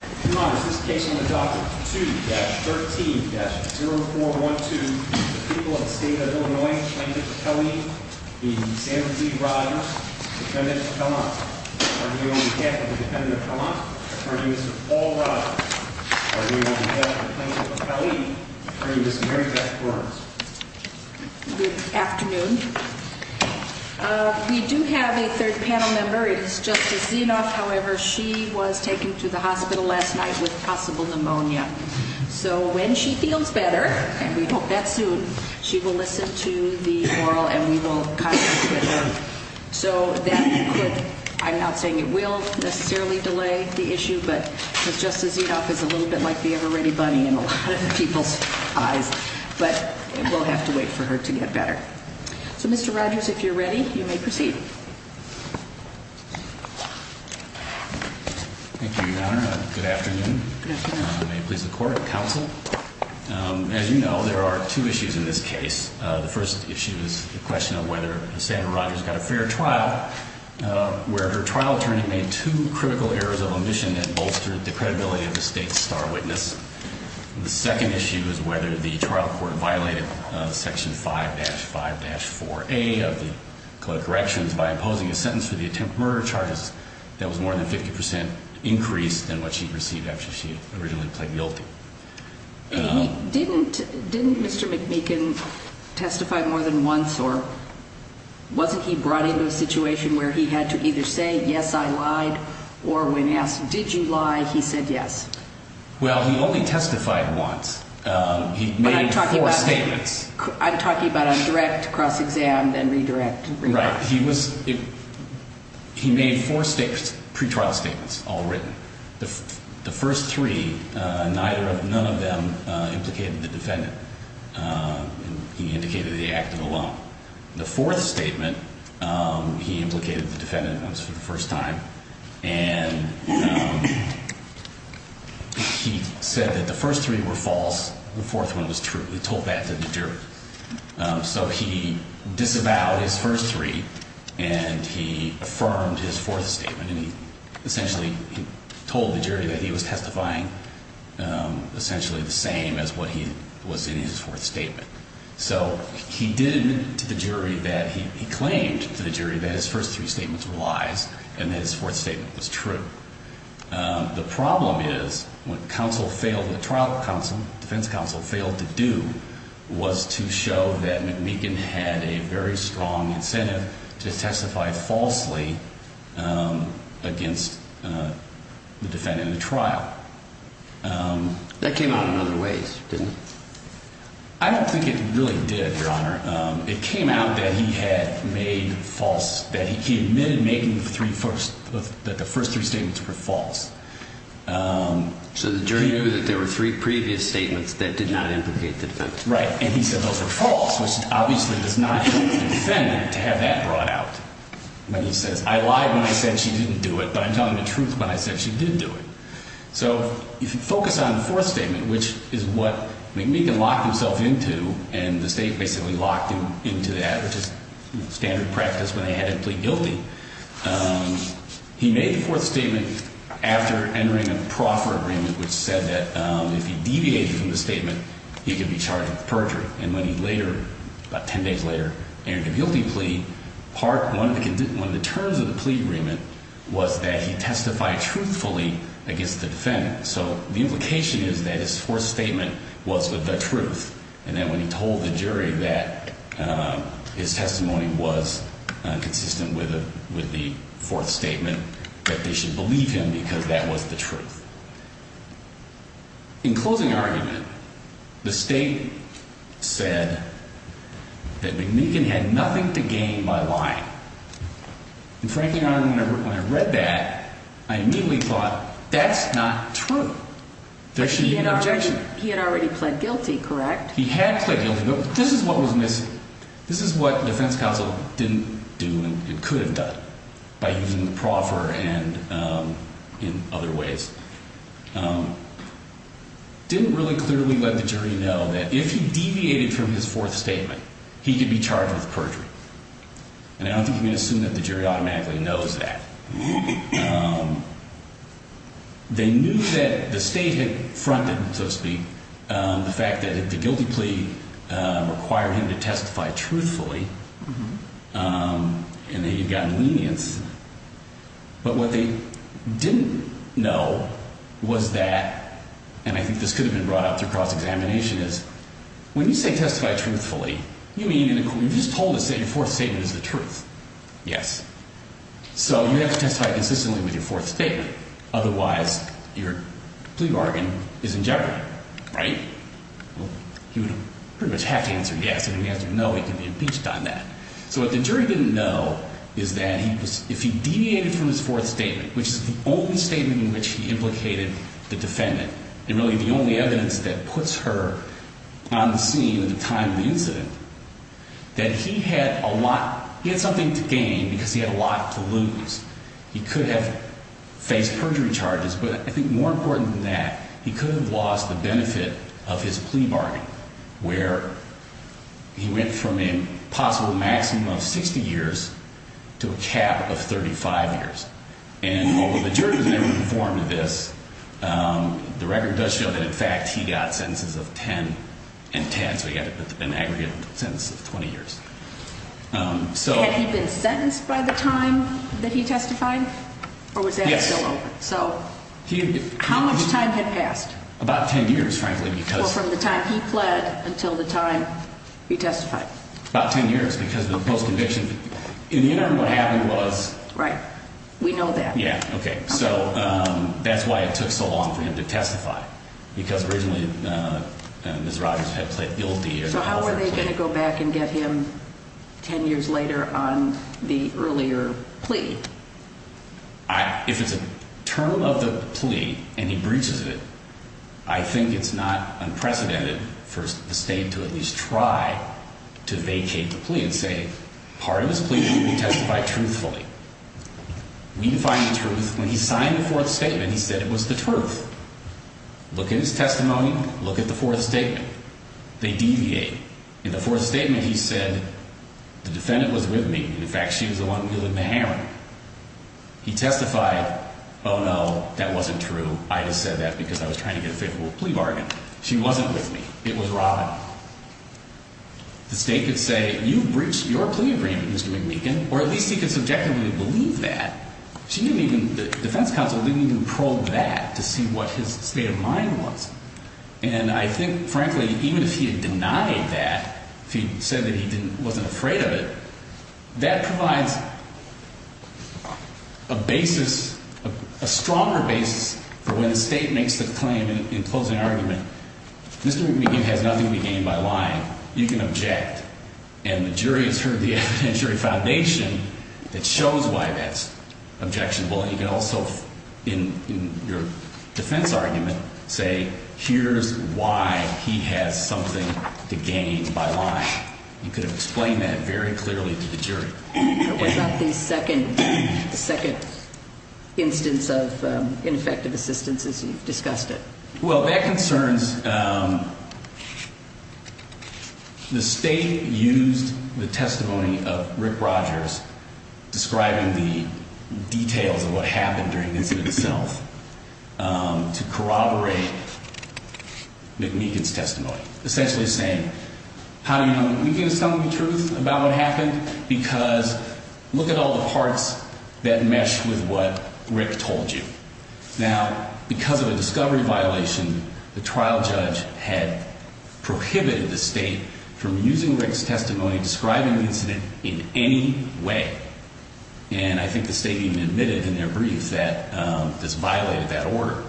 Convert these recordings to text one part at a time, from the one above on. Good afternoon. We do have a third panel member. It is Justice Zinoff. However, she was taken to the hospital last night with possible pneumonia. So when she feels better, and we hope that soon, she will listen to the oral and we will contact her. So that could, I'm not saying it will necessarily delay the issue, but Justice Zinoff is a little bit like the Ever Ready Bunny in a lot of people's eyes. But we'll have to wait for her to get better. So Mr. Rogers, if you're ready, you may proceed. Thank you, Your Honor. Good afternoon. May it please the court, counsel. As you know, there are two issues in this case. The first issue is the question of whether Sandra Rogers got a fair trial, where her trial attorney made two critical errors of omission that bolstered the credibility of the state's star witness. The second issue is whether the trial court violated Section 5-5-4A of the Code of Corrections by imposing a sentence for the attempted murder charges that was more than 50% increase than what she received after she originally pled guilty. Didn't Mr. McMeekin testify more than once, or wasn't he brought into a situation where he had to either say, yes, I lied, or when asked, did you lie, he said yes? Well, he only testified once. He made four statements. I'm talking about on direct, cross-exam, and redirect. Right. He made four pre-trial statements, all written. The first three, none of them implicated the defendant. He indicated the act of the law. The fourth statement, he implicated the defendant once for the first time, and he said that the first three were false. The fourth one was true. He told that to the jury. So he disavowed his first three, and he affirmed his fourth statement, and he essentially told the jury that he was testifying essentially the same as what he was in his fourth statement. So he did admit to the jury that he claimed to the jury that his first three statements were lies, and that his fourth statement was true. The problem is, what the trial defense counsel failed to do was to show that McMeekin had a very strong incentive to testify falsely against the defendant in the trial. That came out in other ways, didn't it? I don't think it really did, Your Honor. It came out that he had made false, that he admitted making the three first, that the first three statements were false. So the jury knew that there were three previous statements that did not implicate the defendant. So if you focus on the fourth statement, which is what McMeekin locked himself into, and the state basically locked him into that, which is standard practice when they had a plea guilty, he made the fourth statement after entering a proffer agreement which said that if he deviated from the statement, he could be charged with perjury. And when he later, about ten days later, entered a guilty plea, part one of the terms of the plea agreement was that he testified truthfully against the defendant. So the implication is that his fourth statement was the truth, and that when he told the jury that his testimony was consistent with the fourth statement, that they should believe him because that was the truth. In closing argument, the state said that McMeekin had nothing to gain by lying. And frankly, Your Honor, when I read that, I immediately thought, that's not true. There should be no objection. He had already pled guilty, correct? He had pled guilty, but this is what was missing. This is what the defense counsel didn't do and could have done by using the proffer and in other ways. Didn't really clearly let the jury know that if he deviated from his fourth statement, he could be charged with perjury. And I don't think you can assume that the jury automatically knows that. They knew that the state had fronted, so to speak, the fact that the guilty plea required him to testify truthfully and that he had gotten lenience. But what they didn't know was that, and I think this could have been brought up through cross-examination, is when you say testify truthfully, you mean, you just told us that your fourth statement is the truth. Yes. So you have to testify consistently with your fourth statement. Otherwise, your plea bargain is in jeopardy, right? Well, he would pretty much have to answer yes, and if he answered no, he could be impeached on that. So what the jury didn't know is that he was, if he deviated from his fourth statement, which is the only statement in which he implicated the defendant, and really the only evidence that puts her on the scene at the time of the incident, that he had a lot, he had something to gain because he had a lot to lose. He could have faced perjury charges, but I think more important than that, he could have lost the benefit of his plea bargain, where he went from a possible maximum of 60 years to a cap of 35 years. And although the jury was never informed of this, the record does show that, in fact, he got sentences of 10 and 10, so he got an aggregate sentence of 20 years. Had he been sentenced by the time that he testified, or was that still open? Yes. So how much time had passed? About 10 years, frankly, because- Or from the time he pled until the time he testified. About 10 years, because of the post-conviction. In the interim, what happened was- Right. We know that. Yeah, okay. So that's why it took so long for him to testify, because originally Ms. Rogers had pled guilty. So how were they going to go back and get him 10 years later on the earlier plea? If it's a term of the plea and he breaches it, I think it's not unprecedented for the state to at least try to vacate the plea and say, part of his plea will be testified truthfully. We find the truth. When he signed the fourth statement, he said it was the truth. Look at his testimony. Look at the fourth statement. They deviate. In the fourth statement, he said, the defendant was with me. In fact, she was the one wielding the hammer. He testified, oh no, that wasn't true. I just said that because I was trying to get a favorable plea bargain. She wasn't with me. It was Robin. The state could say, you breached your plea agreement, Mr. McMeekin, or at least he could subjectively believe that. The defense counsel didn't even probe that to see what his state of mind was. And I think, frankly, even if he had denied that, if he said that he wasn't afraid of it, that provides a basis, a stronger basis for when the state makes the claim in closing argument, Mr. McMeekin has nothing to gain by lying. You can object. And the jury has heard the evidentiary foundation that shows why that's objectionable. And you can also, in your defense argument, say, here's why he has something to gain by lying. You could have explained that very clearly to the jury. But was that the second instance of ineffective assistance as you've discussed it? Well, that concerns – the state used the testimony of Rick Rogers describing the details of what happened during the incident itself to corroborate McMeekin's testimony, essentially saying, how do you – are you going to tell me the truth about what happened? Because look at all the parts that mesh with what Rick told you. Now, because of a discovery violation, the trial judge had prohibited the state from using Rick's testimony describing the incident in any way. And I think the state even admitted in their briefs that this violated that order.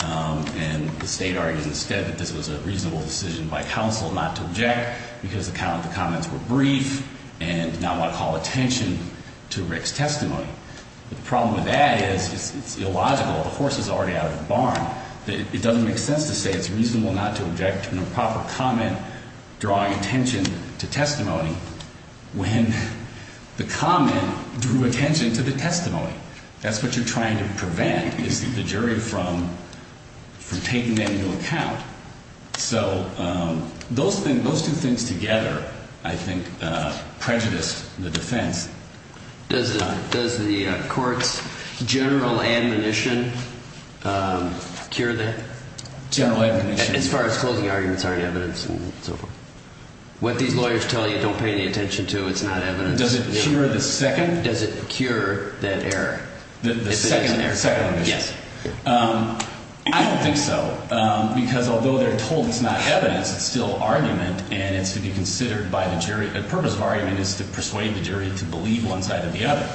And the state argues instead that this was a reasonable decision by counsel not to object because the comments were brief and not want to call attention to Rick's testimony. The problem with that is it's illogical. The horse is already out of the barn. It doesn't make sense to say it's reasonable not to object to an improper comment drawing attention to testimony when the comment drew attention to the testimony. That's what you're trying to prevent is the jury from taking that into account. So those two things together, I think, prejudice the defense. Does the court's general admonition cure that? General admonition? As far as closing arguments are in evidence and so forth. What these lawyers tell you, don't pay any attention to. It's not evidence. Does it cure the second? Does it cure that error? The second admonition? Yes. I don't think so, because although they're told it's not evidence, it's still argument, and it's to be considered by the jury. The purpose of argument is to persuade the jury to believe one side or the other.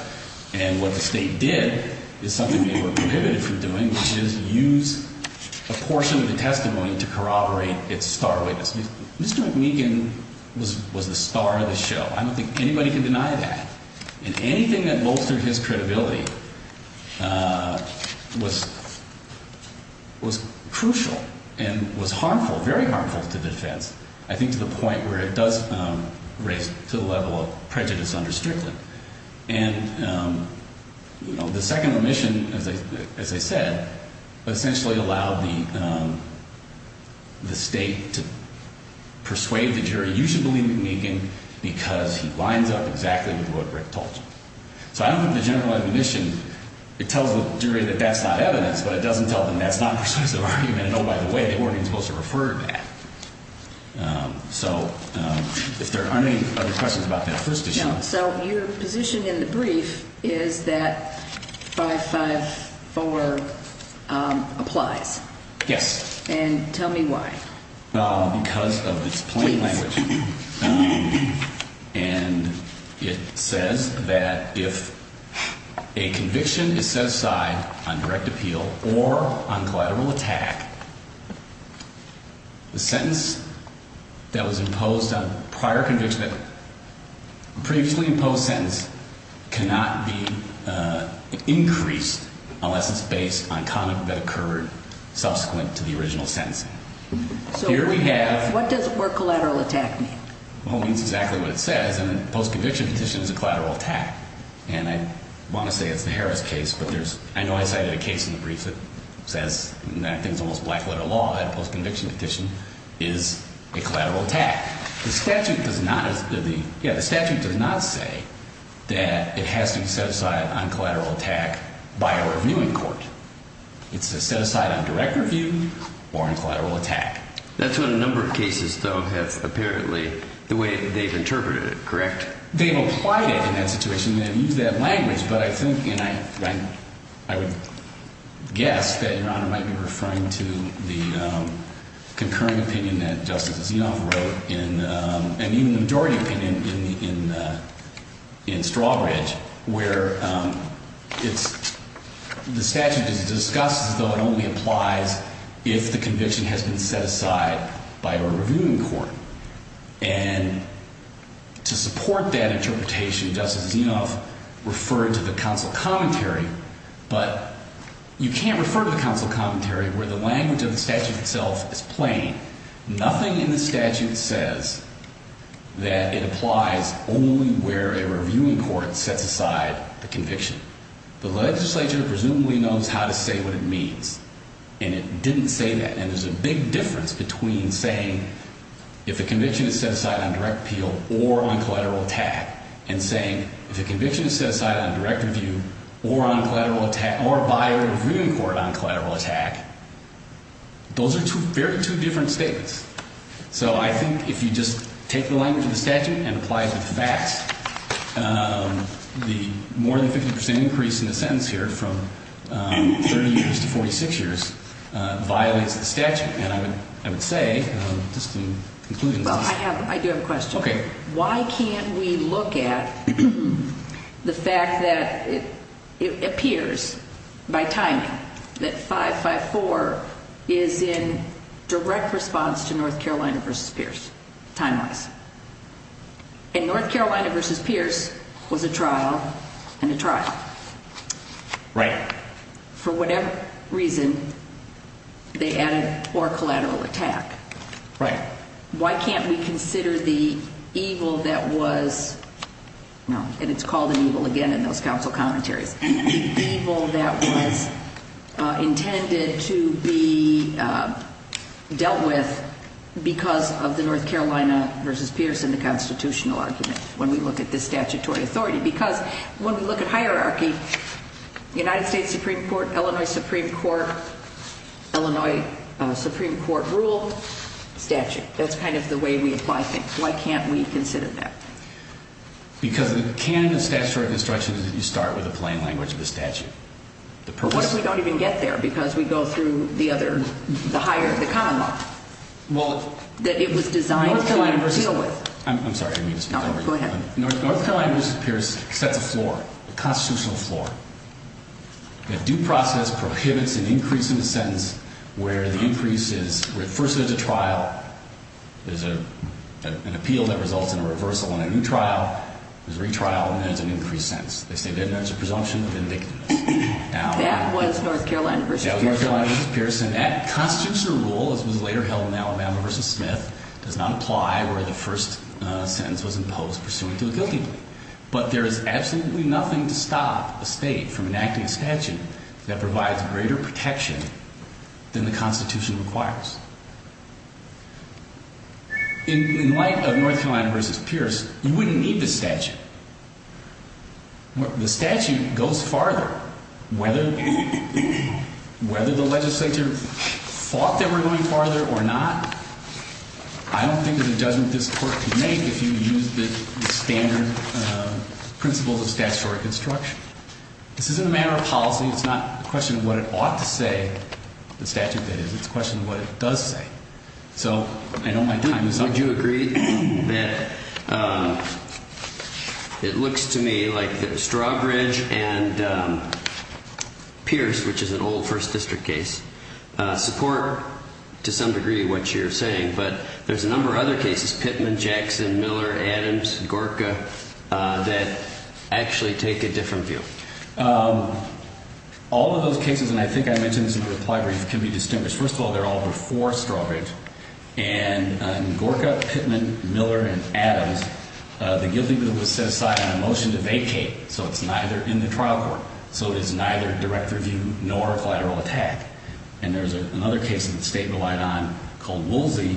And what the state did is something they were prohibited from doing, which is use a portion of the testimony to corroborate its star witness. Mr. McMeekin was the star of the show. I don't think anybody can deny that. And anything that bolstered his credibility was crucial and was harmful, very harmful to defense. I think to the point where it does raise to the level of prejudice under Strickland. And the second admission, as I said, essentially allowed the state to persuade the jury, you should believe McMeekin because he lines up exactly with what Rick told you. So I don't think the general admonition, it tells the jury that that's not evidence, but it doesn't tell them that's not persuasive argument. And oh, by the way, they weren't even supposed to refer to that. So if there aren't any other questions about that first issue. So your position in the brief is that 554 applies. Yes. And tell me why. Because of its plain language. And it says that if a conviction is set aside on direct appeal or on collateral attack. The sentence that was imposed on prior conviction, previously imposed sentence cannot be increased unless it's based on comment that occurred subsequent to the original sentencing. So here we have. What does collateral attack mean? Well, it means exactly what it says. And a post conviction petition is a collateral attack. And I want to say it's the Harris case, but I know I cited a case in the brief that says, and I think it's almost black letter law, that a post conviction petition is a collateral attack. The statute does not say that it has to be set aside on collateral attack by a reviewing court. It's set aside on direct review or on collateral attack. That's what a number of cases, though, have apparently, the way they've interpreted it, correct? They've applied it in that situation. They've used that language. But I think, and I would guess that Your Honor might be referring to the concurring opinion that Justice Zinoff wrote and even the majority opinion in Strawbridge where it's, the statute is discussed as though it only applies if the conviction has been set aside by a reviewing court. And to support that interpretation, Justice Zinoff referred to the counsel commentary. But you can't refer to the counsel commentary where the language of the statute itself is plain. Nothing in the statute says that it applies only where a reviewing court sets aside the conviction. The legislature presumably knows how to say what it means. And it didn't say that. And there's a big difference between saying if a conviction is set aside on direct appeal or on collateral attack and saying if a conviction is set aside on direct review or on collateral attack, or by a reviewing court on collateral attack, those are two very different statements. So I think if you just take the language of the statute and apply it to the facts, the more than 50% increase in the sentence here from 30 years to 46 years violates the statute. And I would say, just in conclusion. I do have a question. Why can't we look at the fact that it appears by timing that 554 is in direct response to North Carolina versus Pierce, time-wise. And North Carolina versus Pierce was a trial and a trial. Right. For whatever reason, they added or collateral attack. Right. Why can't we consider the evil that was, and it's called an evil again in those counsel commentaries. The evil that was intended to be dealt with because of the North Carolina versus Pierce in the constitutional argument when we look at the statutory authority. Because when we look at hierarchy, United States Supreme Court, Illinois Supreme Court, Illinois Supreme Court rule, statute. That's kind of the way we apply things. Why can't we consider that? Because the canon of statutory construction is that you start with a plain language of the statute. What if we don't even get there because we go through the other, the higher, the common law? Well. That it was designed to deal with. I'm sorry. Go ahead. North Carolina versus Pierce sets a floor, a constitutional floor. A due process prohibits an increase in a sentence where the increase is, where first there's a trial. There's an appeal that results in a reversal in a new trial. There's a retrial and there's an increased sentence. They say then there's a presumption of indignity. That was North Carolina versus Pierce. That was North Carolina versus Pierce. And that constitutional rule, as was later held in Alabama versus Smith, does not apply where the first sentence was imposed pursuant to a guilty plea. But there is absolutely nothing to stop a state from enacting a statute that provides greater protection than the Constitution requires. In light of North Carolina versus Pierce, you wouldn't need the statute. The statute goes farther. Whether the legislature thought they were going farther or not, I don't think that a judgment this court could make if you used the standard principles of statutory construction. This isn't a matter of policy. It's not a question of what it ought to say, the statute that is. It's a question of what it does say. So I know my time is up. Would you agree that it looks to me like the Strawbridge and Pierce, which is an old first district case, support to some degree what you're saying. But there's a number of other cases, Pittman, Jackson, Miller, Adams, Gorka, that actually take a different view. All of those cases, and I think I mentioned this in the reply brief, can be distinguished. First of all, they're all before Strawbridge. And Gorka, Pittman, Miller, and Adams, the guilty bill was set aside on a motion to vacate. So it's neither in the trial court, so it is neither direct review nor collateral attack. And there's another case that the state relied on called Woolsey,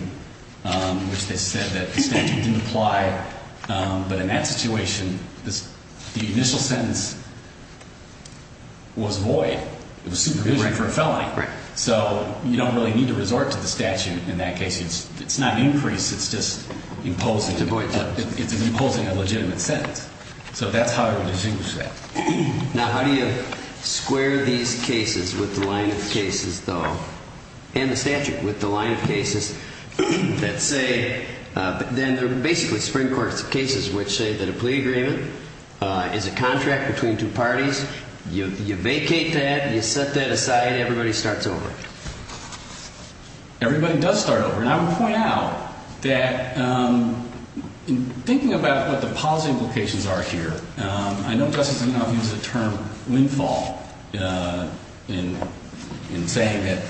which they said that the statute didn't apply. But in that situation, the initial sentence was void. It was supervision for a felony. So you don't really need to resort to the statute in that case. It's not increased. It's just imposing a legitimate sentence. So that's how I would distinguish that. Now, how do you square these cases with the line of cases, though, and the statute with the line of cases that say – then they're basically Supreme Court cases which say that a plea agreement is a contract between two parties. You vacate that. You set that aside. Everybody starts over. Everybody does start over. And I would point out that in thinking about what the positive implications are here, I know Justice McConnell uses the term windfall in saying that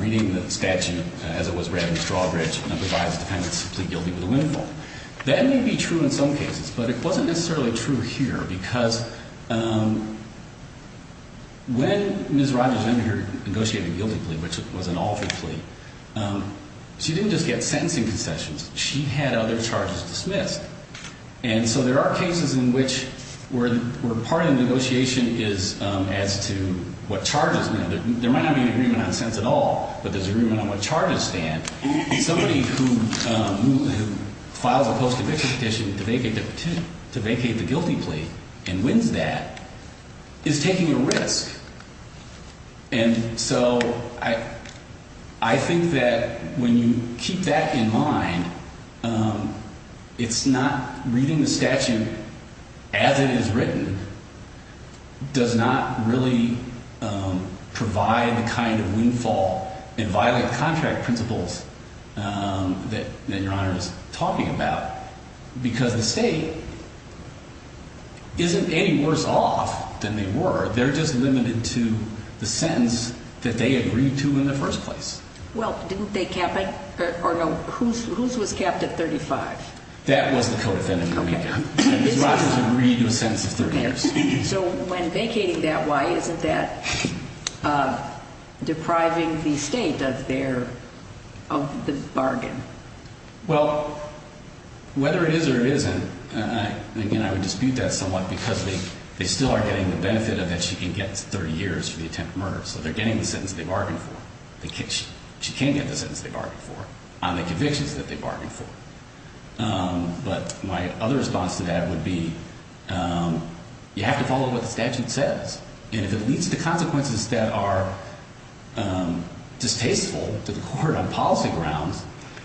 reading the statute as it was read in Strawbridge provides defendants simply guilty of the windfall. That may be true in some cases. But it wasn't necessarily true here because when Ms. Rogers ended her negotiating guilty plea, which was an altered plea, she didn't just get sentencing concessions. She had other charges dismissed. And so there are cases in which where part of the negotiation is as to what charges stand. There might not be an agreement on sentence at all, but there's an agreement on what charges stand. Somebody who files a post-eviction petition to vacate the guilty plea and wins that is taking a risk. And so I think that when you keep that in mind, it's not reading the statute as it is written does not really provide the kind of windfall and violent contract principles that Your Honor is talking about because the state isn't any worse off than they were. They're just limited to the sentence that they agreed to in the first place. Well, didn't they cap it? Or no, whose was capped at 35? That was the co-defendant. Ms. Rogers agreed to a sentence of 30 years. So when vacating that, why isn't that depriving the state of the bargain? Well, whether it is or it isn't, again, I would dispute that somewhat because they still are getting the benefit of that she can get 30 years for the attempt at murder. So they're getting the sentence they bargained for. She can get the sentence they bargained for on the convictions that they bargained for. But my other response to that would be you have to follow what the statute says. And if it leads to consequences that are distasteful to the court on policy grounds,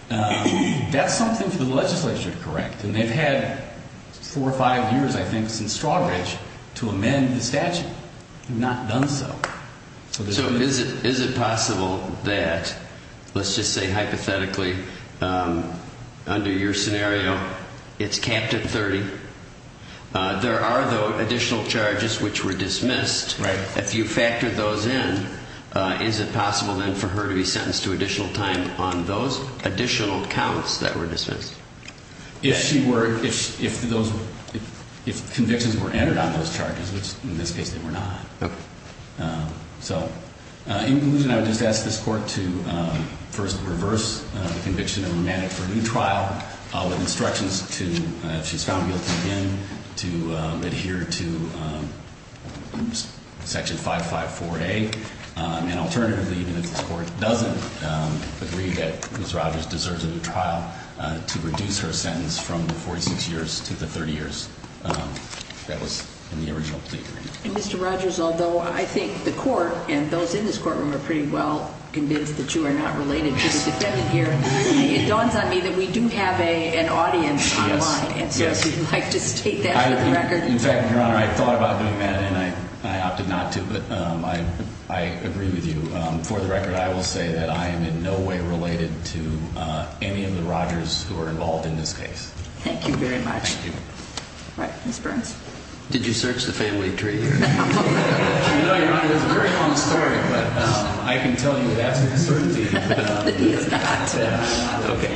that's something for the legislature to correct. And they've had four or five years, I think, since Strawbridge to amend the statute. They've not done so. So is it possible that, let's just say hypothetically, under your scenario, it's capped at 30? There are, though, additional charges which were dismissed. If you factor those in, is it possible then for her to be sentenced to additional time on those additional counts that were dismissed? If convictions were entered on those charges, which in this case they were not. Okay. So in conclusion, I would just ask this court to first reverse the conviction and amend it for a new trial with instructions to, if she's found guilty again, to adhere to Section 554A. And alternatively, even if this court doesn't agree that Ms. Rogers deserves a new trial, to reduce her sentence from the 46 years to the 30 years that was in the original plea agreement. And Mr. Rogers, although I think the court and those in this courtroom are pretty well convinced that you are not related to the defendant here, it dawns on me that we do have an audience online. Yes. And so if you'd like to state that for the record. In fact, Your Honor, I thought about doing that, and I opted not to. But I agree with you. For the record, I will say that I am in no way related to any of the Rogers who are involved in this case. Thank you very much. Thank you. All right. Ms. Burns. Did you search the family tree? No, Your Honor. It's a very long story, but I can tell you with absolute certainty. He has got to. Okay.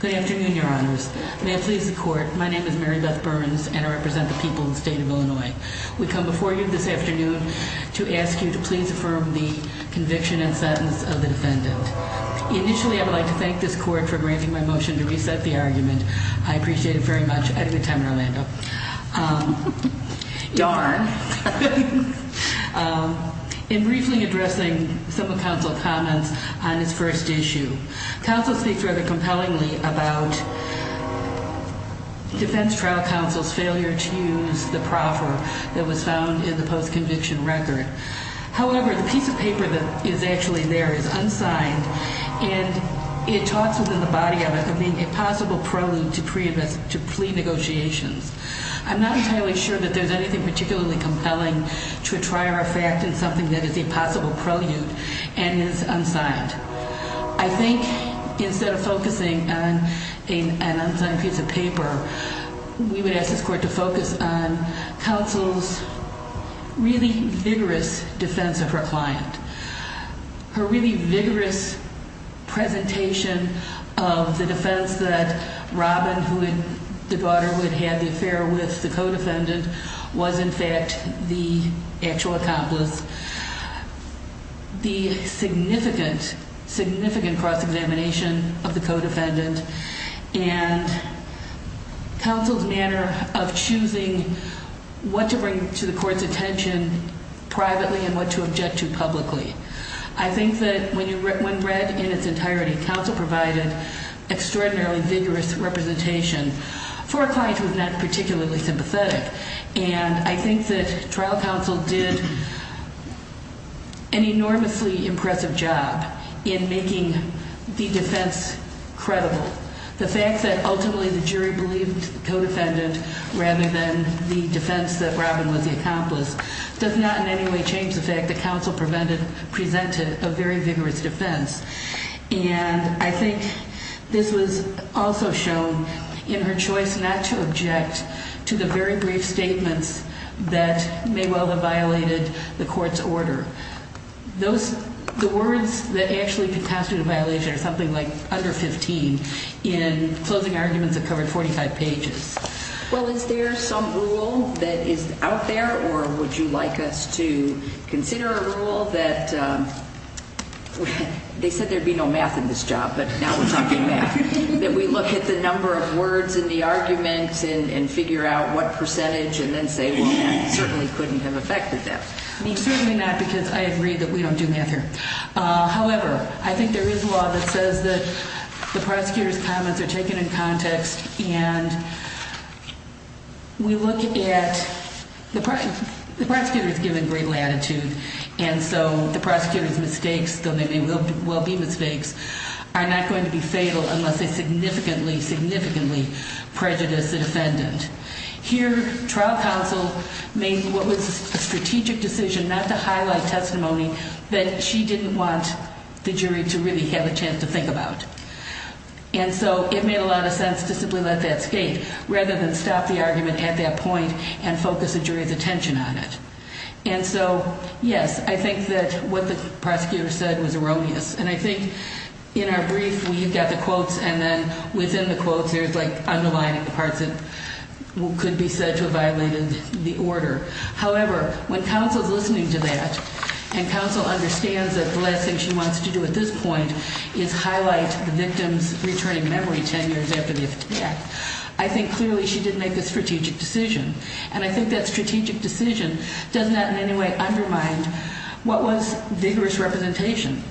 Good afternoon, Your Honors. May it please the court, my name is Mary Beth Burns, and I represent the people of the state of Illinois. We come before you this afternoon to ask you to please affirm the conviction and sentence of the defendant. Initially, I would like to thank this court for granting my motion to reset the argument. I appreciate it very much. I had a good time in Orlando. Darn. In briefly addressing some of counsel's comments on this first issue, counsel speaks rather compellingly about defense trial counsel's failure to use the proffer that was found in the post-conviction record. However, the piece of paper that is actually there is unsigned, and it talks within the body of it of being a possible prelude to plea negotiations. I'm not entirely sure that there's anything particularly compelling to try our fact in something that is a possible prelude and is unsigned. I think instead of focusing on an unsigned piece of paper, we would ask this court to focus on counsel's really vigorous defense of her client, her really vigorous presentation of the defense that Robin, the daughter who had had the affair with the co-defendant, was in fact the actual accomplice. The significant, significant cross-examination of the co-defendant and counsel's manner of choosing what to bring to the court's attention privately and what to object to publicly. I think that when read in its entirety, counsel provided extraordinarily vigorous representation for a client who was not particularly sympathetic. And I think that trial counsel did an enormously impressive job in making the defense credible. The fact that ultimately the jury believed the co-defendant rather than the defense that Robin was the accomplice does not in any way change the fact that counsel presented a very vigorous defense. And I think this was also shown in her choice not to object to the very brief statements that may well have violated the court's order. The words that actually contested a violation are something like under 15 in closing arguments that covered 45 pages. Well, is there some rule that is out there or would you like us to consider a rule that, they said there'd be no math in this job, but now we're talking math, that we look at the number of words in the arguments and figure out what percentage and then say, well, that certainly couldn't have affected them. I mean, certainly not because I agree that we don't do math here. However, I think there is law that says that the prosecutor's comments are taken in context and we look at, the prosecutor's given great latitude and so the prosecutor's mistakes, though they may well be mistakes, are not going to be fatal unless they significantly, significantly prejudice the defendant. Here, trial counsel made what was a strategic decision not to highlight testimony that she didn't want the jury to really have a chance to think about. And so it made a lot of sense to simply let that skate rather than stop the argument at that point and focus the jury's attention on it. And so, yes, I think that what the prosecutor said was erroneous. And I think in our brief, we've got the quotes and then within the quotes, there's like underlining the parts that could be said to have violated the order. However, when counsel's listening to that and counsel understands that the last thing she wants to do at this point is highlight the victim's returning memory 10 years after the attack, I think clearly she did make a strategic decision. And I think that strategic decision does not in any way undermine what was vigorous representation.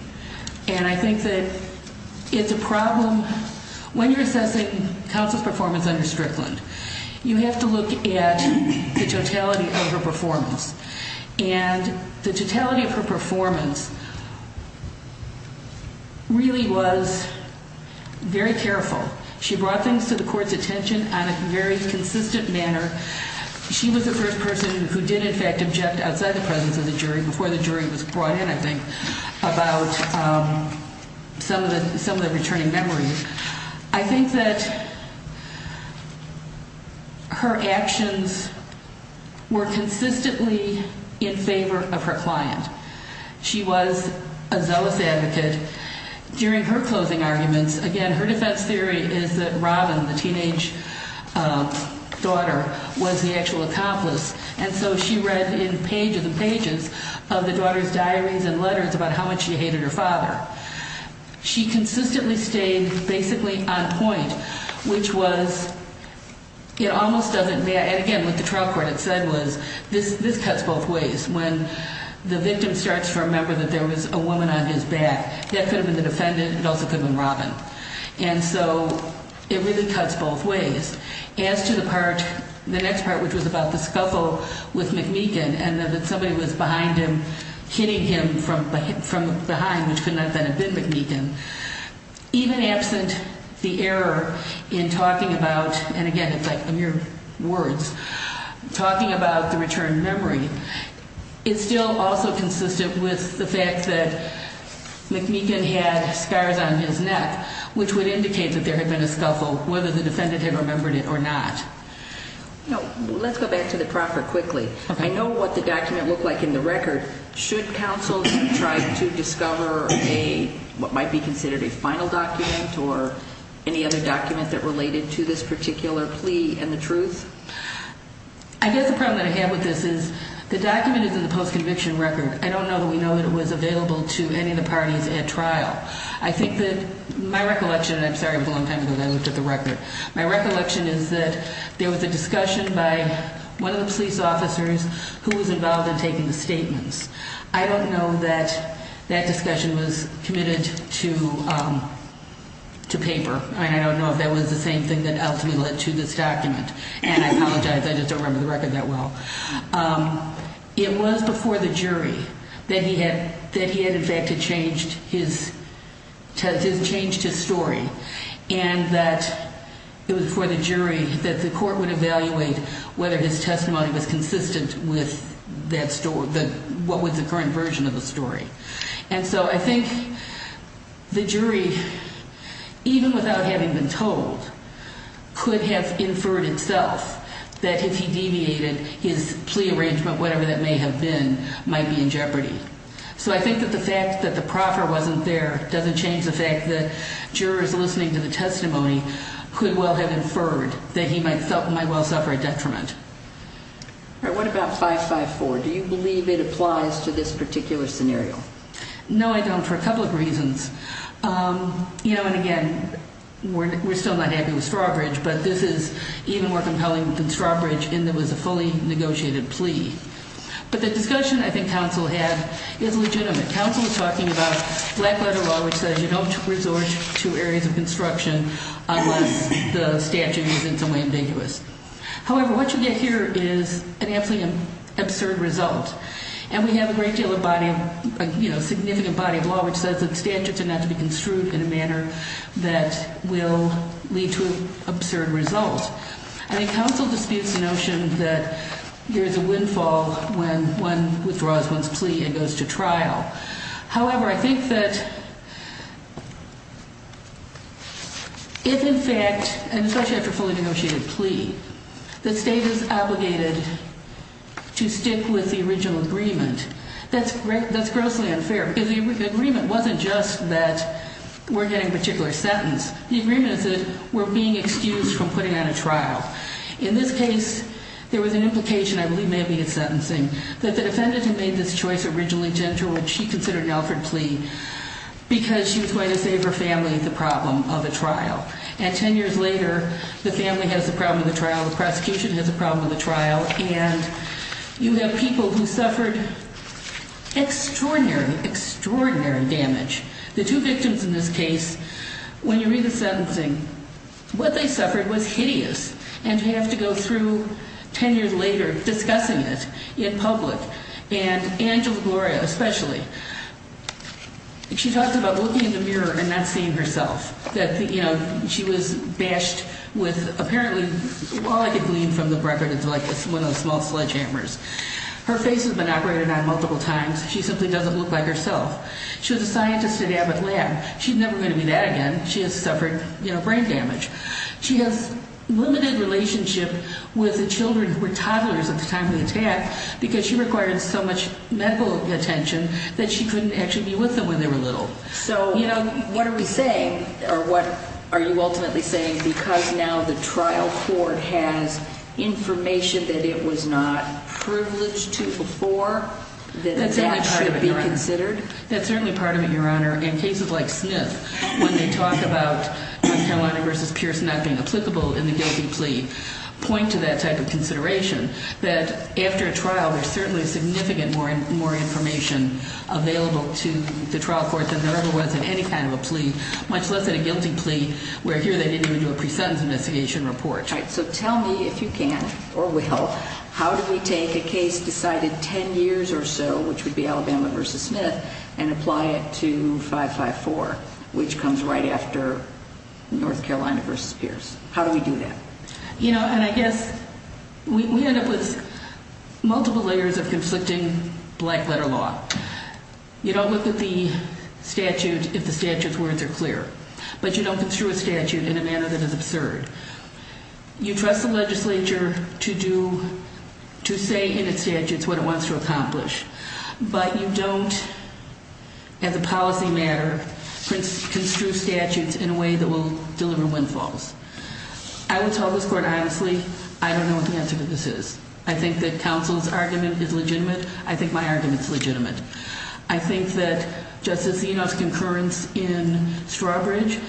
And I think that it's a problem when you're assessing counsel's performance under Strickland. You have to look at the totality of her performance. And the totality of her performance really was very careful. She brought things to the court's attention on a very consistent manner. She was the first person who did in fact object outside the presence of the jury before the jury was brought in, I think, about some of the returning memories. I think that her actions were consistently in favor of her client. She was a zealous advocate. During her closing arguments, again, her defense theory is that Robin, the teenage daughter, was the actual accomplice. And so she read in pages and pages of the daughter's diaries and letters about how much she hated her father. She consistently stayed basically on point, which was it almost doesn't matter. And again, what the trial court had said was this cuts both ways. When the victim starts to remember that there was a woman on his back, that could have been the defendant. It also could have been Robin. And so it really cuts both ways. As to the part, the next part, which was about the scuffle with McMeekin and that somebody was behind him, hitting him from behind, which could not have been McMeekin, even absent the error in talking about, and again, it's like in your words, talking about the return memory, it's still also consistent with the fact that McMeekin had scars on his neck, which would indicate that there had been a scuffle, whether the defendant had remembered it or not. Let's go back to the proffer quickly. I know what the document looked like in the record. Should counsel try to discover what might be considered a final document or any other document that related to this particular plea and the truth? I guess the problem that I have with this is the document is in the post-conviction record. I don't know that we know that it was available to any of the parties at trial. I think that my recollection, and I'm sorry it was a long time ago that I looked at the record, my recollection is that there was a discussion by one of the police officers who was involved in taking the statements. I don't know that that discussion was committed to paper, and I don't know if that was the same thing that ultimately led to this document, and I apologize, I just don't remember the record that well. It was before the jury that he had in fact changed his story, and that it was before the jury that the court would evaluate whether his testimony was consistent with what was the current version of the story. And so I think the jury, even without having been told, could have inferred itself that if he deviated his plea arrangement, whatever that may have been, might be in jeopardy. So I think that the fact that the proffer wasn't there doesn't change the fact that jurors listening to the testimony could well have inferred that he might well suffer a detriment. All right, what about 554? Do you believe it applies to this particular scenario? No, I don't, for a couple of reasons. You know, and again, we're still not happy with Strawbridge, but this is even more compelling than Strawbridge in that it was a fully negotiated plea. But the discussion I think counsel had is legitimate. Counsel is talking about black letter law, which says you don't resort to areas of construction unless the statute is in some way ambiguous. However, what you get here is an absolutely absurd result. And we have a great deal of body of, you know, significant body of law which says that the statutes are not to be construed in a manner that will lead to an absurd result. I think counsel disputes the notion that there is a windfall when one withdraws one's plea and goes to trial. However, I think that if in fact, and especially after a fully negotiated plea, the state is obligated to stick with the original agreement, that's grossly unfair. Because the agreement wasn't just that we're getting a particular sentence. The agreement is that we're being excused from putting on a trial. In this case, there was an implication, I believe maybe in sentencing, that the defendant who made this choice originally to enter what she considered an Alfred plea because she was going to save her family the problem of a trial. And ten years later, the family has the problem of the trial, the prosecution has the problem of the trial, and you have people who suffered extraordinary, extraordinary damage. The two victims in this case, when you read the sentencing, what they suffered was hideous. And to have to go through ten years later discussing it in public, and Angela Gloria especially, she talked about looking in the mirror and not seeing herself. She was bashed with apparently, all I could glean from the record is one of the small sledgehammers. Her face has been operated on multiple times. She simply doesn't look like herself. She was a scientist at Abbott Lab. She's never going to be that again. She has suffered brain damage. She has limited relationship with the children who were toddlers at the time of the attack because she required so much medical attention that she couldn't actually be with them when they were little. So what are we saying, or what are you ultimately saying, because now the trial court has information that it was not privileged to before, that that should be considered? That's certainly part of it, Your Honor. And cases like Smith, when they talk about North Carolina v. Pierce not being applicable in the guilty plea, point to that type of consideration, that after a trial, there's certainly significant more information available to the trial court than there ever was in any kind of a plea, much less in a guilty plea where here they didn't even do a pre-sentence investigation report. All right. So tell me, if you can or will, how do we take a case decided ten years or so, which would be Alabama v. Smith, and apply it to 554, which comes right after North Carolina v. Pierce? How do we do that? You know, and I guess we end up with multiple layers of conflicting black-letter law. You don't look at the statute if the statute's words are clear, but you don't construe a statute in a manner that is absurd. You trust the legislature to say in its statutes what it wants to accomplish, but you don't, as a policy matter, construe statutes in a way that will deliver windfalls. I would tell this court, honestly, I don't know what the answer to this is. I think that counsel's argument is legitimate. I think my argument's legitimate. I think that Justice Enos' concurrence in Strawbridge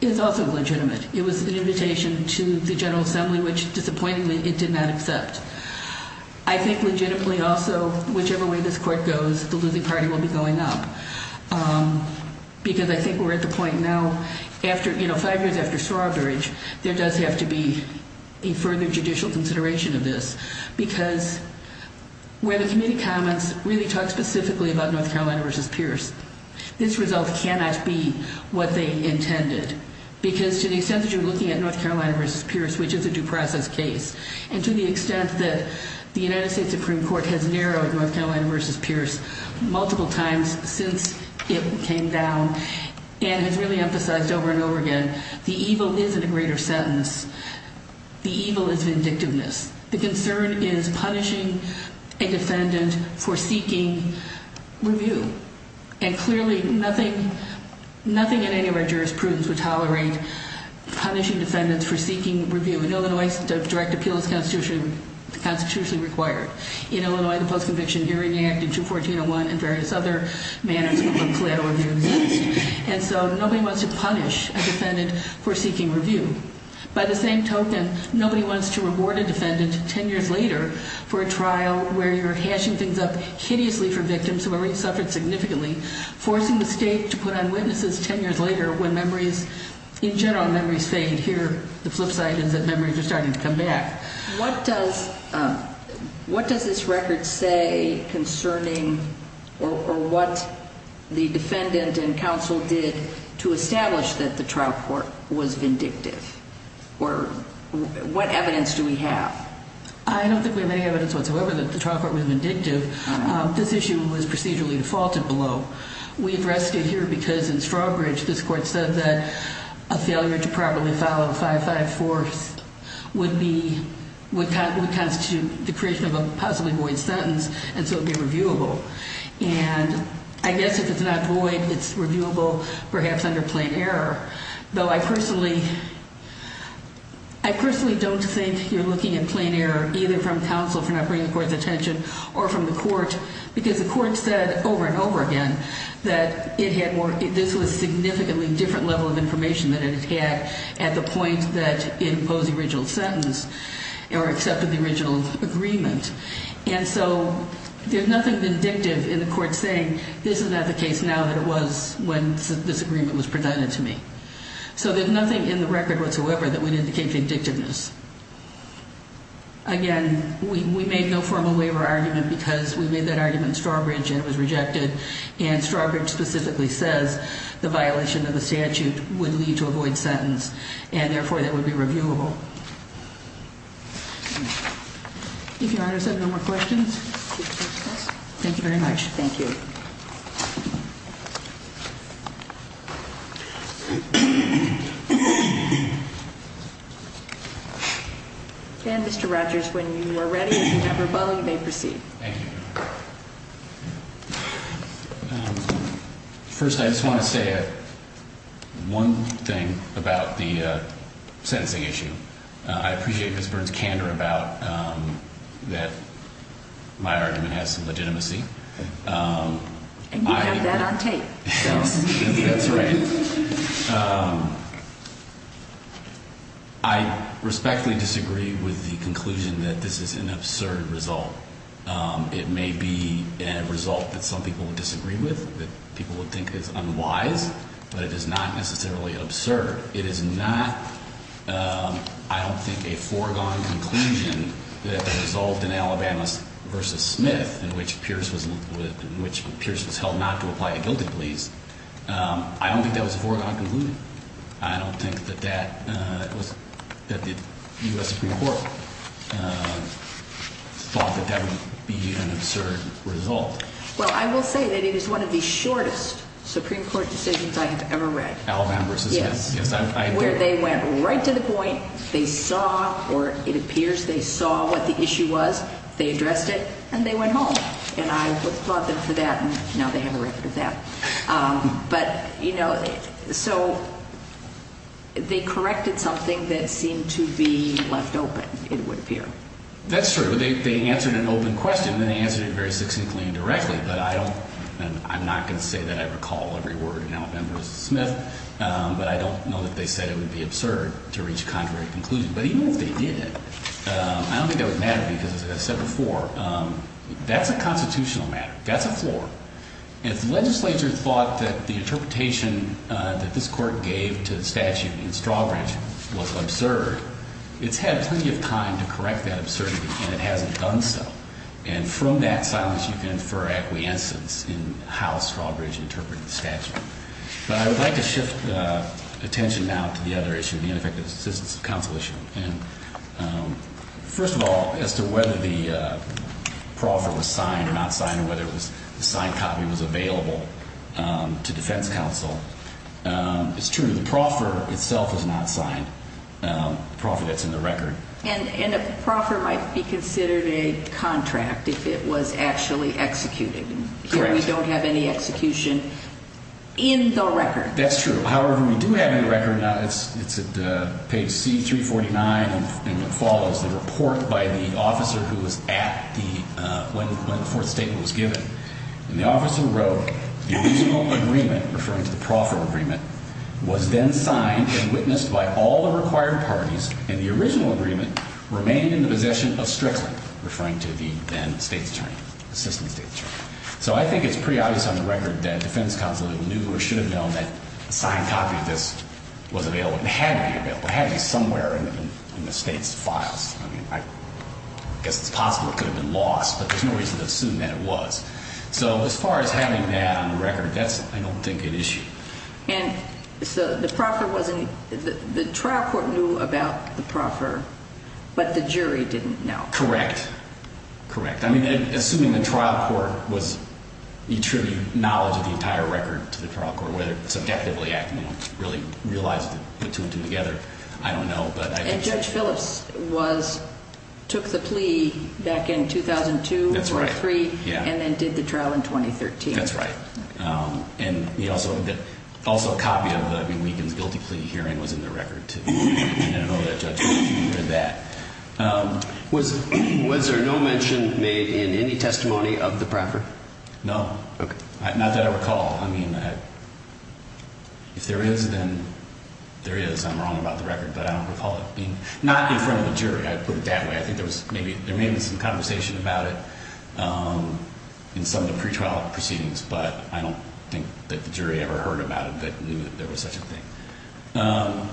is also legitimate. It was an invitation to the General Assembly, which, disappointingly, it did not accept. I think legitimately also, whichever way this court goes, the losing party will be going up, because I think we're at the point now, you know, five years after Strawbridge, there does have to be a further judicial consideration of this, because where the committee comments really talk specifically about North Carolina v. Pierce, this result cannot be what they intended, because to the extent that you're looking at North Carolina v. Pierce, which is a due process case, and to the extent that the United States Supreme Court has narrowed North Carolina v. Pierce multiple times since it came down and has really emphasized over and over again, the evil isn't a greater sentence. The evil is vindictiveness. The concern is punishing a defendant for seeking review, and clearly nothing in any of our jurisprudence would tolerate punishing defendants for seeking review. In Illinois, direct appeal is constitutionally required. In Illinois, the Post-Conviction Hearing Act in 21401 and various other manners of collateral review exist, and so nobody wants to punish a defendant for seeking review. By the same token, nobody wants to reward a defendant 10 years later for a trial where you're hashing things up hideously for victims who have already suffered significantly, forcing the state to put on witnesses 10 years later when memories, in general, memories fade and here the flip side is that memories are starting to come back. What does this record say concerning or what the defendant and counsel did to establish that the trial court was vindictive? What evidence do we have? I don't think we have any evidence whatsoever that the trial court was vindictive. This issue was procedurally defaulted below. We addressed it here because in Strawbridge, this court said that a failure to properly follow 5-5-4th would constitute the creation of a possibly void sentence, and so it would be reviewable. And I guess if it's not void, it's reviewable perhaps under plain error, though I personally don't think you're looking at plain error either from counsel for not bringing the court's attention or from the court because the court said over and over again that this was a significantly different level of information than it had at the point that it imposed the original sentence or accepted the original agreement. And so there's nothing vindictive in the court saying this is not the case now that it was when this agreement was presented to me. So there's nothing in the record whatsoever that would indicate vindictiveness. Again, we made no formal waiver argument because we made that argument in Strawbridge and it was rejected, and Strawbridge specifically says the violation of the statute would lead to a void sentence, and therefore that would be reviewable. If Your Honor has no more questions. Thank you very much. Thank you. And Mr. Rogers, when you are ready and you have your bow, you may proceed. Thank you. First, I just want to say one thing about the sentencing issue. I appreciate Ms. Burns' candor about that my argument has some legitimacy. And you have that on tape. That's right. I respectfully disagree with the conclusion that this is an absurd result. It may be a result that some people would disagree with, that people would think is unwise, but it is not necessarily absurd. It is not, I don't think, a foregone conclusion that the result in Alabama v. Smith, in which Pierce was held not to apply a guilty please, I don't think that was a foregone conclusion. I don't think that the U.S. Supreme Court thought that that would be an absurd result. Well, I will say that it is one of the shortest Supreme Court decisions I have ever read. Alabama v. Smith. Yes. Where they went right to the point, they saw, or it appears they saw what the issue was, they addressed it, and they went home. And I applaud them for that, and now they have a record of that. But, you know, so they corrected something that seemed to be left open, it would appear. That's true. So they answered an open question, and they answered it very succinctly and directly. But I don't, and I'm not going to say that I recall every word in Alabama v. Smith, but I don't know that they said it would be absurd to reach a contrary conclusion. But even if they did, I don't think that would matter because, as I said before, that's a constitutional matter. That's a floor. And if the legislature thought that the interpretation that this court gave to the statute in Strawbridge was absurd, it's had plenty of time to correct that absurdity, and it hasn't done so. And from that silence you can infer acquiescence in how Strawbridge interpreted the statute. But I would like to shift attention now to the other issue, the ineffective assistance of counsel issue. And first of all, as to whether the proffer was signed or not signed or whether the signed copy was available to defense counsel, it's true. The proffer itself was not signed, the proffer that's in the record. And a proffer might be considered a contract if it was actually executed. Correct. We don't have any execution in the record. That's true. However, we do have it in the record. It's at page C349, and it follows the report by the officer who was at the, when the fourth statement was given. And the officer wrote, the original agreement, referring to the proffer agreement, was then signed and witnessed by all the required parties, and the original agreement remained in the possession of Strickland, referring to the then state's attorney, assistant state's attorney. So I think it's pretty obvious on the record that defense counsel knew or should have known that the signed copy of this was available. It had to be available. It had to be somewhere in the state's files. I mean, I guess it's possible it could have been lost, but there's no reason to assume that it was. So as far as having that on the record, that's, I don't think, an issue. And so the proffer wasn't, the trial court knew about the proffer, but the jury didn't know. Correct. Correct. I mean, assuming the trial court was, you attribute knowledge of the entire record to the trial court, whether subjectively acting, you know, really realized it put two and two together, I don't know. And Judge Phillips was, took the plea back in 2002, 2003, and then did the trial in 2013. That's right. And he also, also a copy of the, I mean, Wiegand's guilty plea hearing was in the record, too. And I know that Judge Phillips knew that. Was there no mention made in any testimony of the proffer? No. Okay. Not that I recall. I mean, if there is, then there is. I'm wrong about the record, but I don't recall it being, not in front of the jury, I'd put it that way. I think there was maybe, there may have been some conversation about it in some of the pretrial proceedings, but I don't think that the jury ever heard about it that knew that there was such a thing.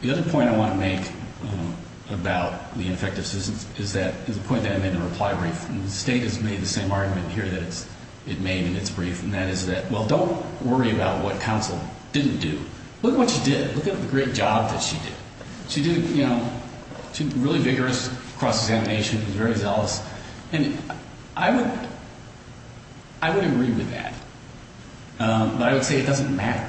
The other point I want to make about the ineffectiveness is that, is a point that I made in a reply brief, and the State has made the same argument here that it made in its brief, and that is that, well, don't worry about what counsel didn't do. Look what she did. Look at the great job that she did. She did, you know, she was really vigorous, cross-examination, was very zealous. And I would, I would agree with that. But I would say it doesn't matter.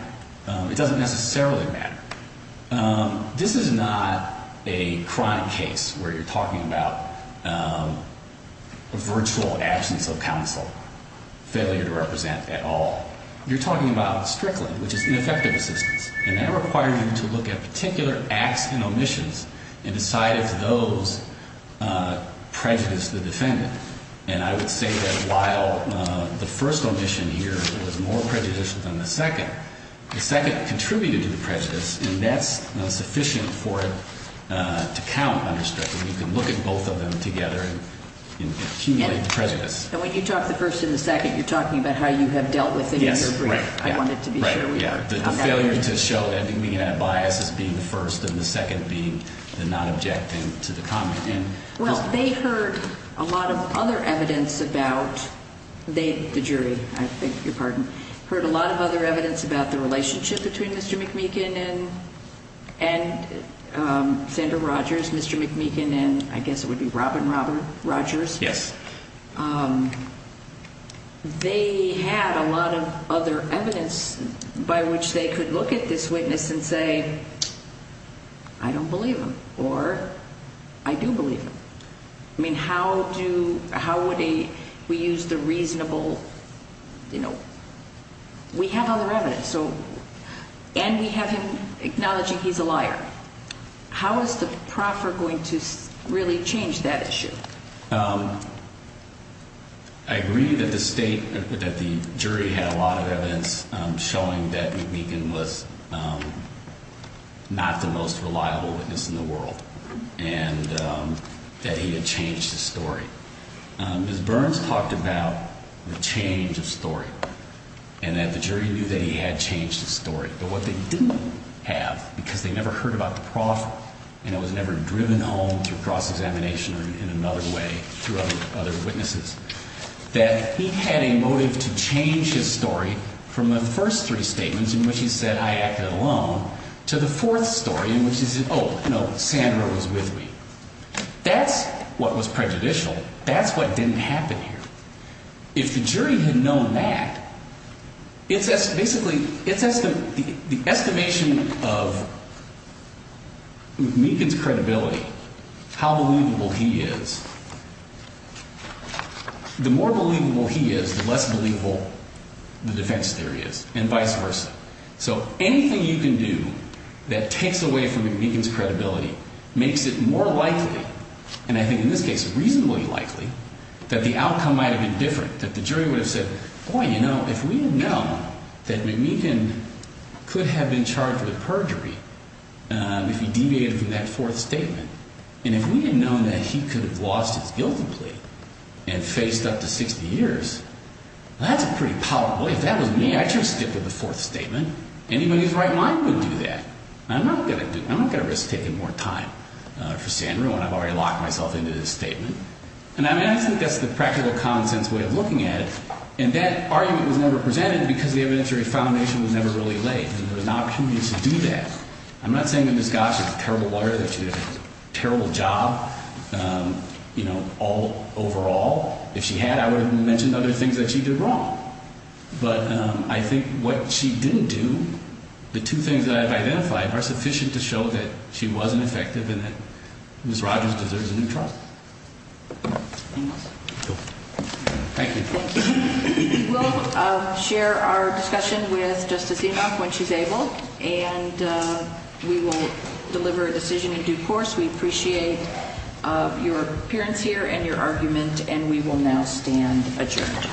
It doesn't necessarily matter. This is not a crime case where you're talking about a virtual absence of counsel, failure to represent at all. You're talking about Strickland, which is ineffective assistance, and that requires you to look at particular acts and omissions and decide if those prejudiced the defendant. And I would say that while the first omission here was more prejudicial than the second, the second contributed to the prejudice, and that's sufficient for it to count under Strickland. You can look at both of them together and accumulate the prejudice. And when you talk the first and the second, you're talking about how you have dealt with it in your brief. Yes, right. I wanted to be sure we were. Right, yeah. The failure to show that and being at a bias as being the first and the second being the not objecting to the comment. Well, they heard a lot of other evidence about, they, the jury, I beg your pardon, heard a lot of other evidence about the relationship between Mr. McMeekin and Sandra Rogers, Mr. McMeekin and I guess it would be Robin Rogers. Yes. They had a lot of other evidence by which they could look at this witness and say, I don't believe him or I do believe him. I mean, how do, how would he, we use the reasonable, you know, we have other evidence. So, and we have him acknowledging he's a liar. How is the proffer going to really change that issue? I agree that the state, that the jury had a lot of evidence showing that McMeekin was not the most reliable witness in the world and that he had changed his story. Ms. Burns talked about the change of story and that the jury knew that he had changed his story, but what they didn't have because they never heard about the proffer and it was never driven home through cross-examination or in another way through other witnesses, that he had a motive to change his story from the first three statements in which he said I acted alone to the fourth story in which he said, oh, no, Sandra was with me. That's what was prejudicial. That's what didn't happen here. If the jury had known that, it's basically, it's the estimation of McMeekin's credibility, how believable he is. The more believable he is, the less believable the defense theory is and vice versa. So anything you can do that takes away from McMeekin's credibility makes it more likely, and I think in this case reasonably likely, that the outcome might have been different, that the jury would have said, boy, you know, if we had known that McMeekin could have been charged with perjury if he deviated from that fourth statement, and if we had known that he could have lost his guilty plea and faced up to 60 years, that's a pretty powerful belief. If that was me, I'd just stick with the fourth statement. Anybody's right mind would do that. I'm not going to risk taking more time for Sandra when I've already locked myself into this statement. And I think that's the practical common sense way of looking at it, and that argument was never presented because the evidentiary foundation was never really laid, and there was no opportunity to do that. I'm not saying that Ms. Goss is a terrible lawyer, that she did a terrible job, you know, overall. If she had, I would have mentioned other things that she did wrong. But I think what she didn't do, the two things that I've identified, are sufficient to show that she wasn't effective and that Ms. Rogers deserves a new trial. Thank you. We'll share our discussion with Justice Enoch when she's able, and we will deliver a decision in due course. We appreciate your appearance here and your argument, and we will now stand adjourned.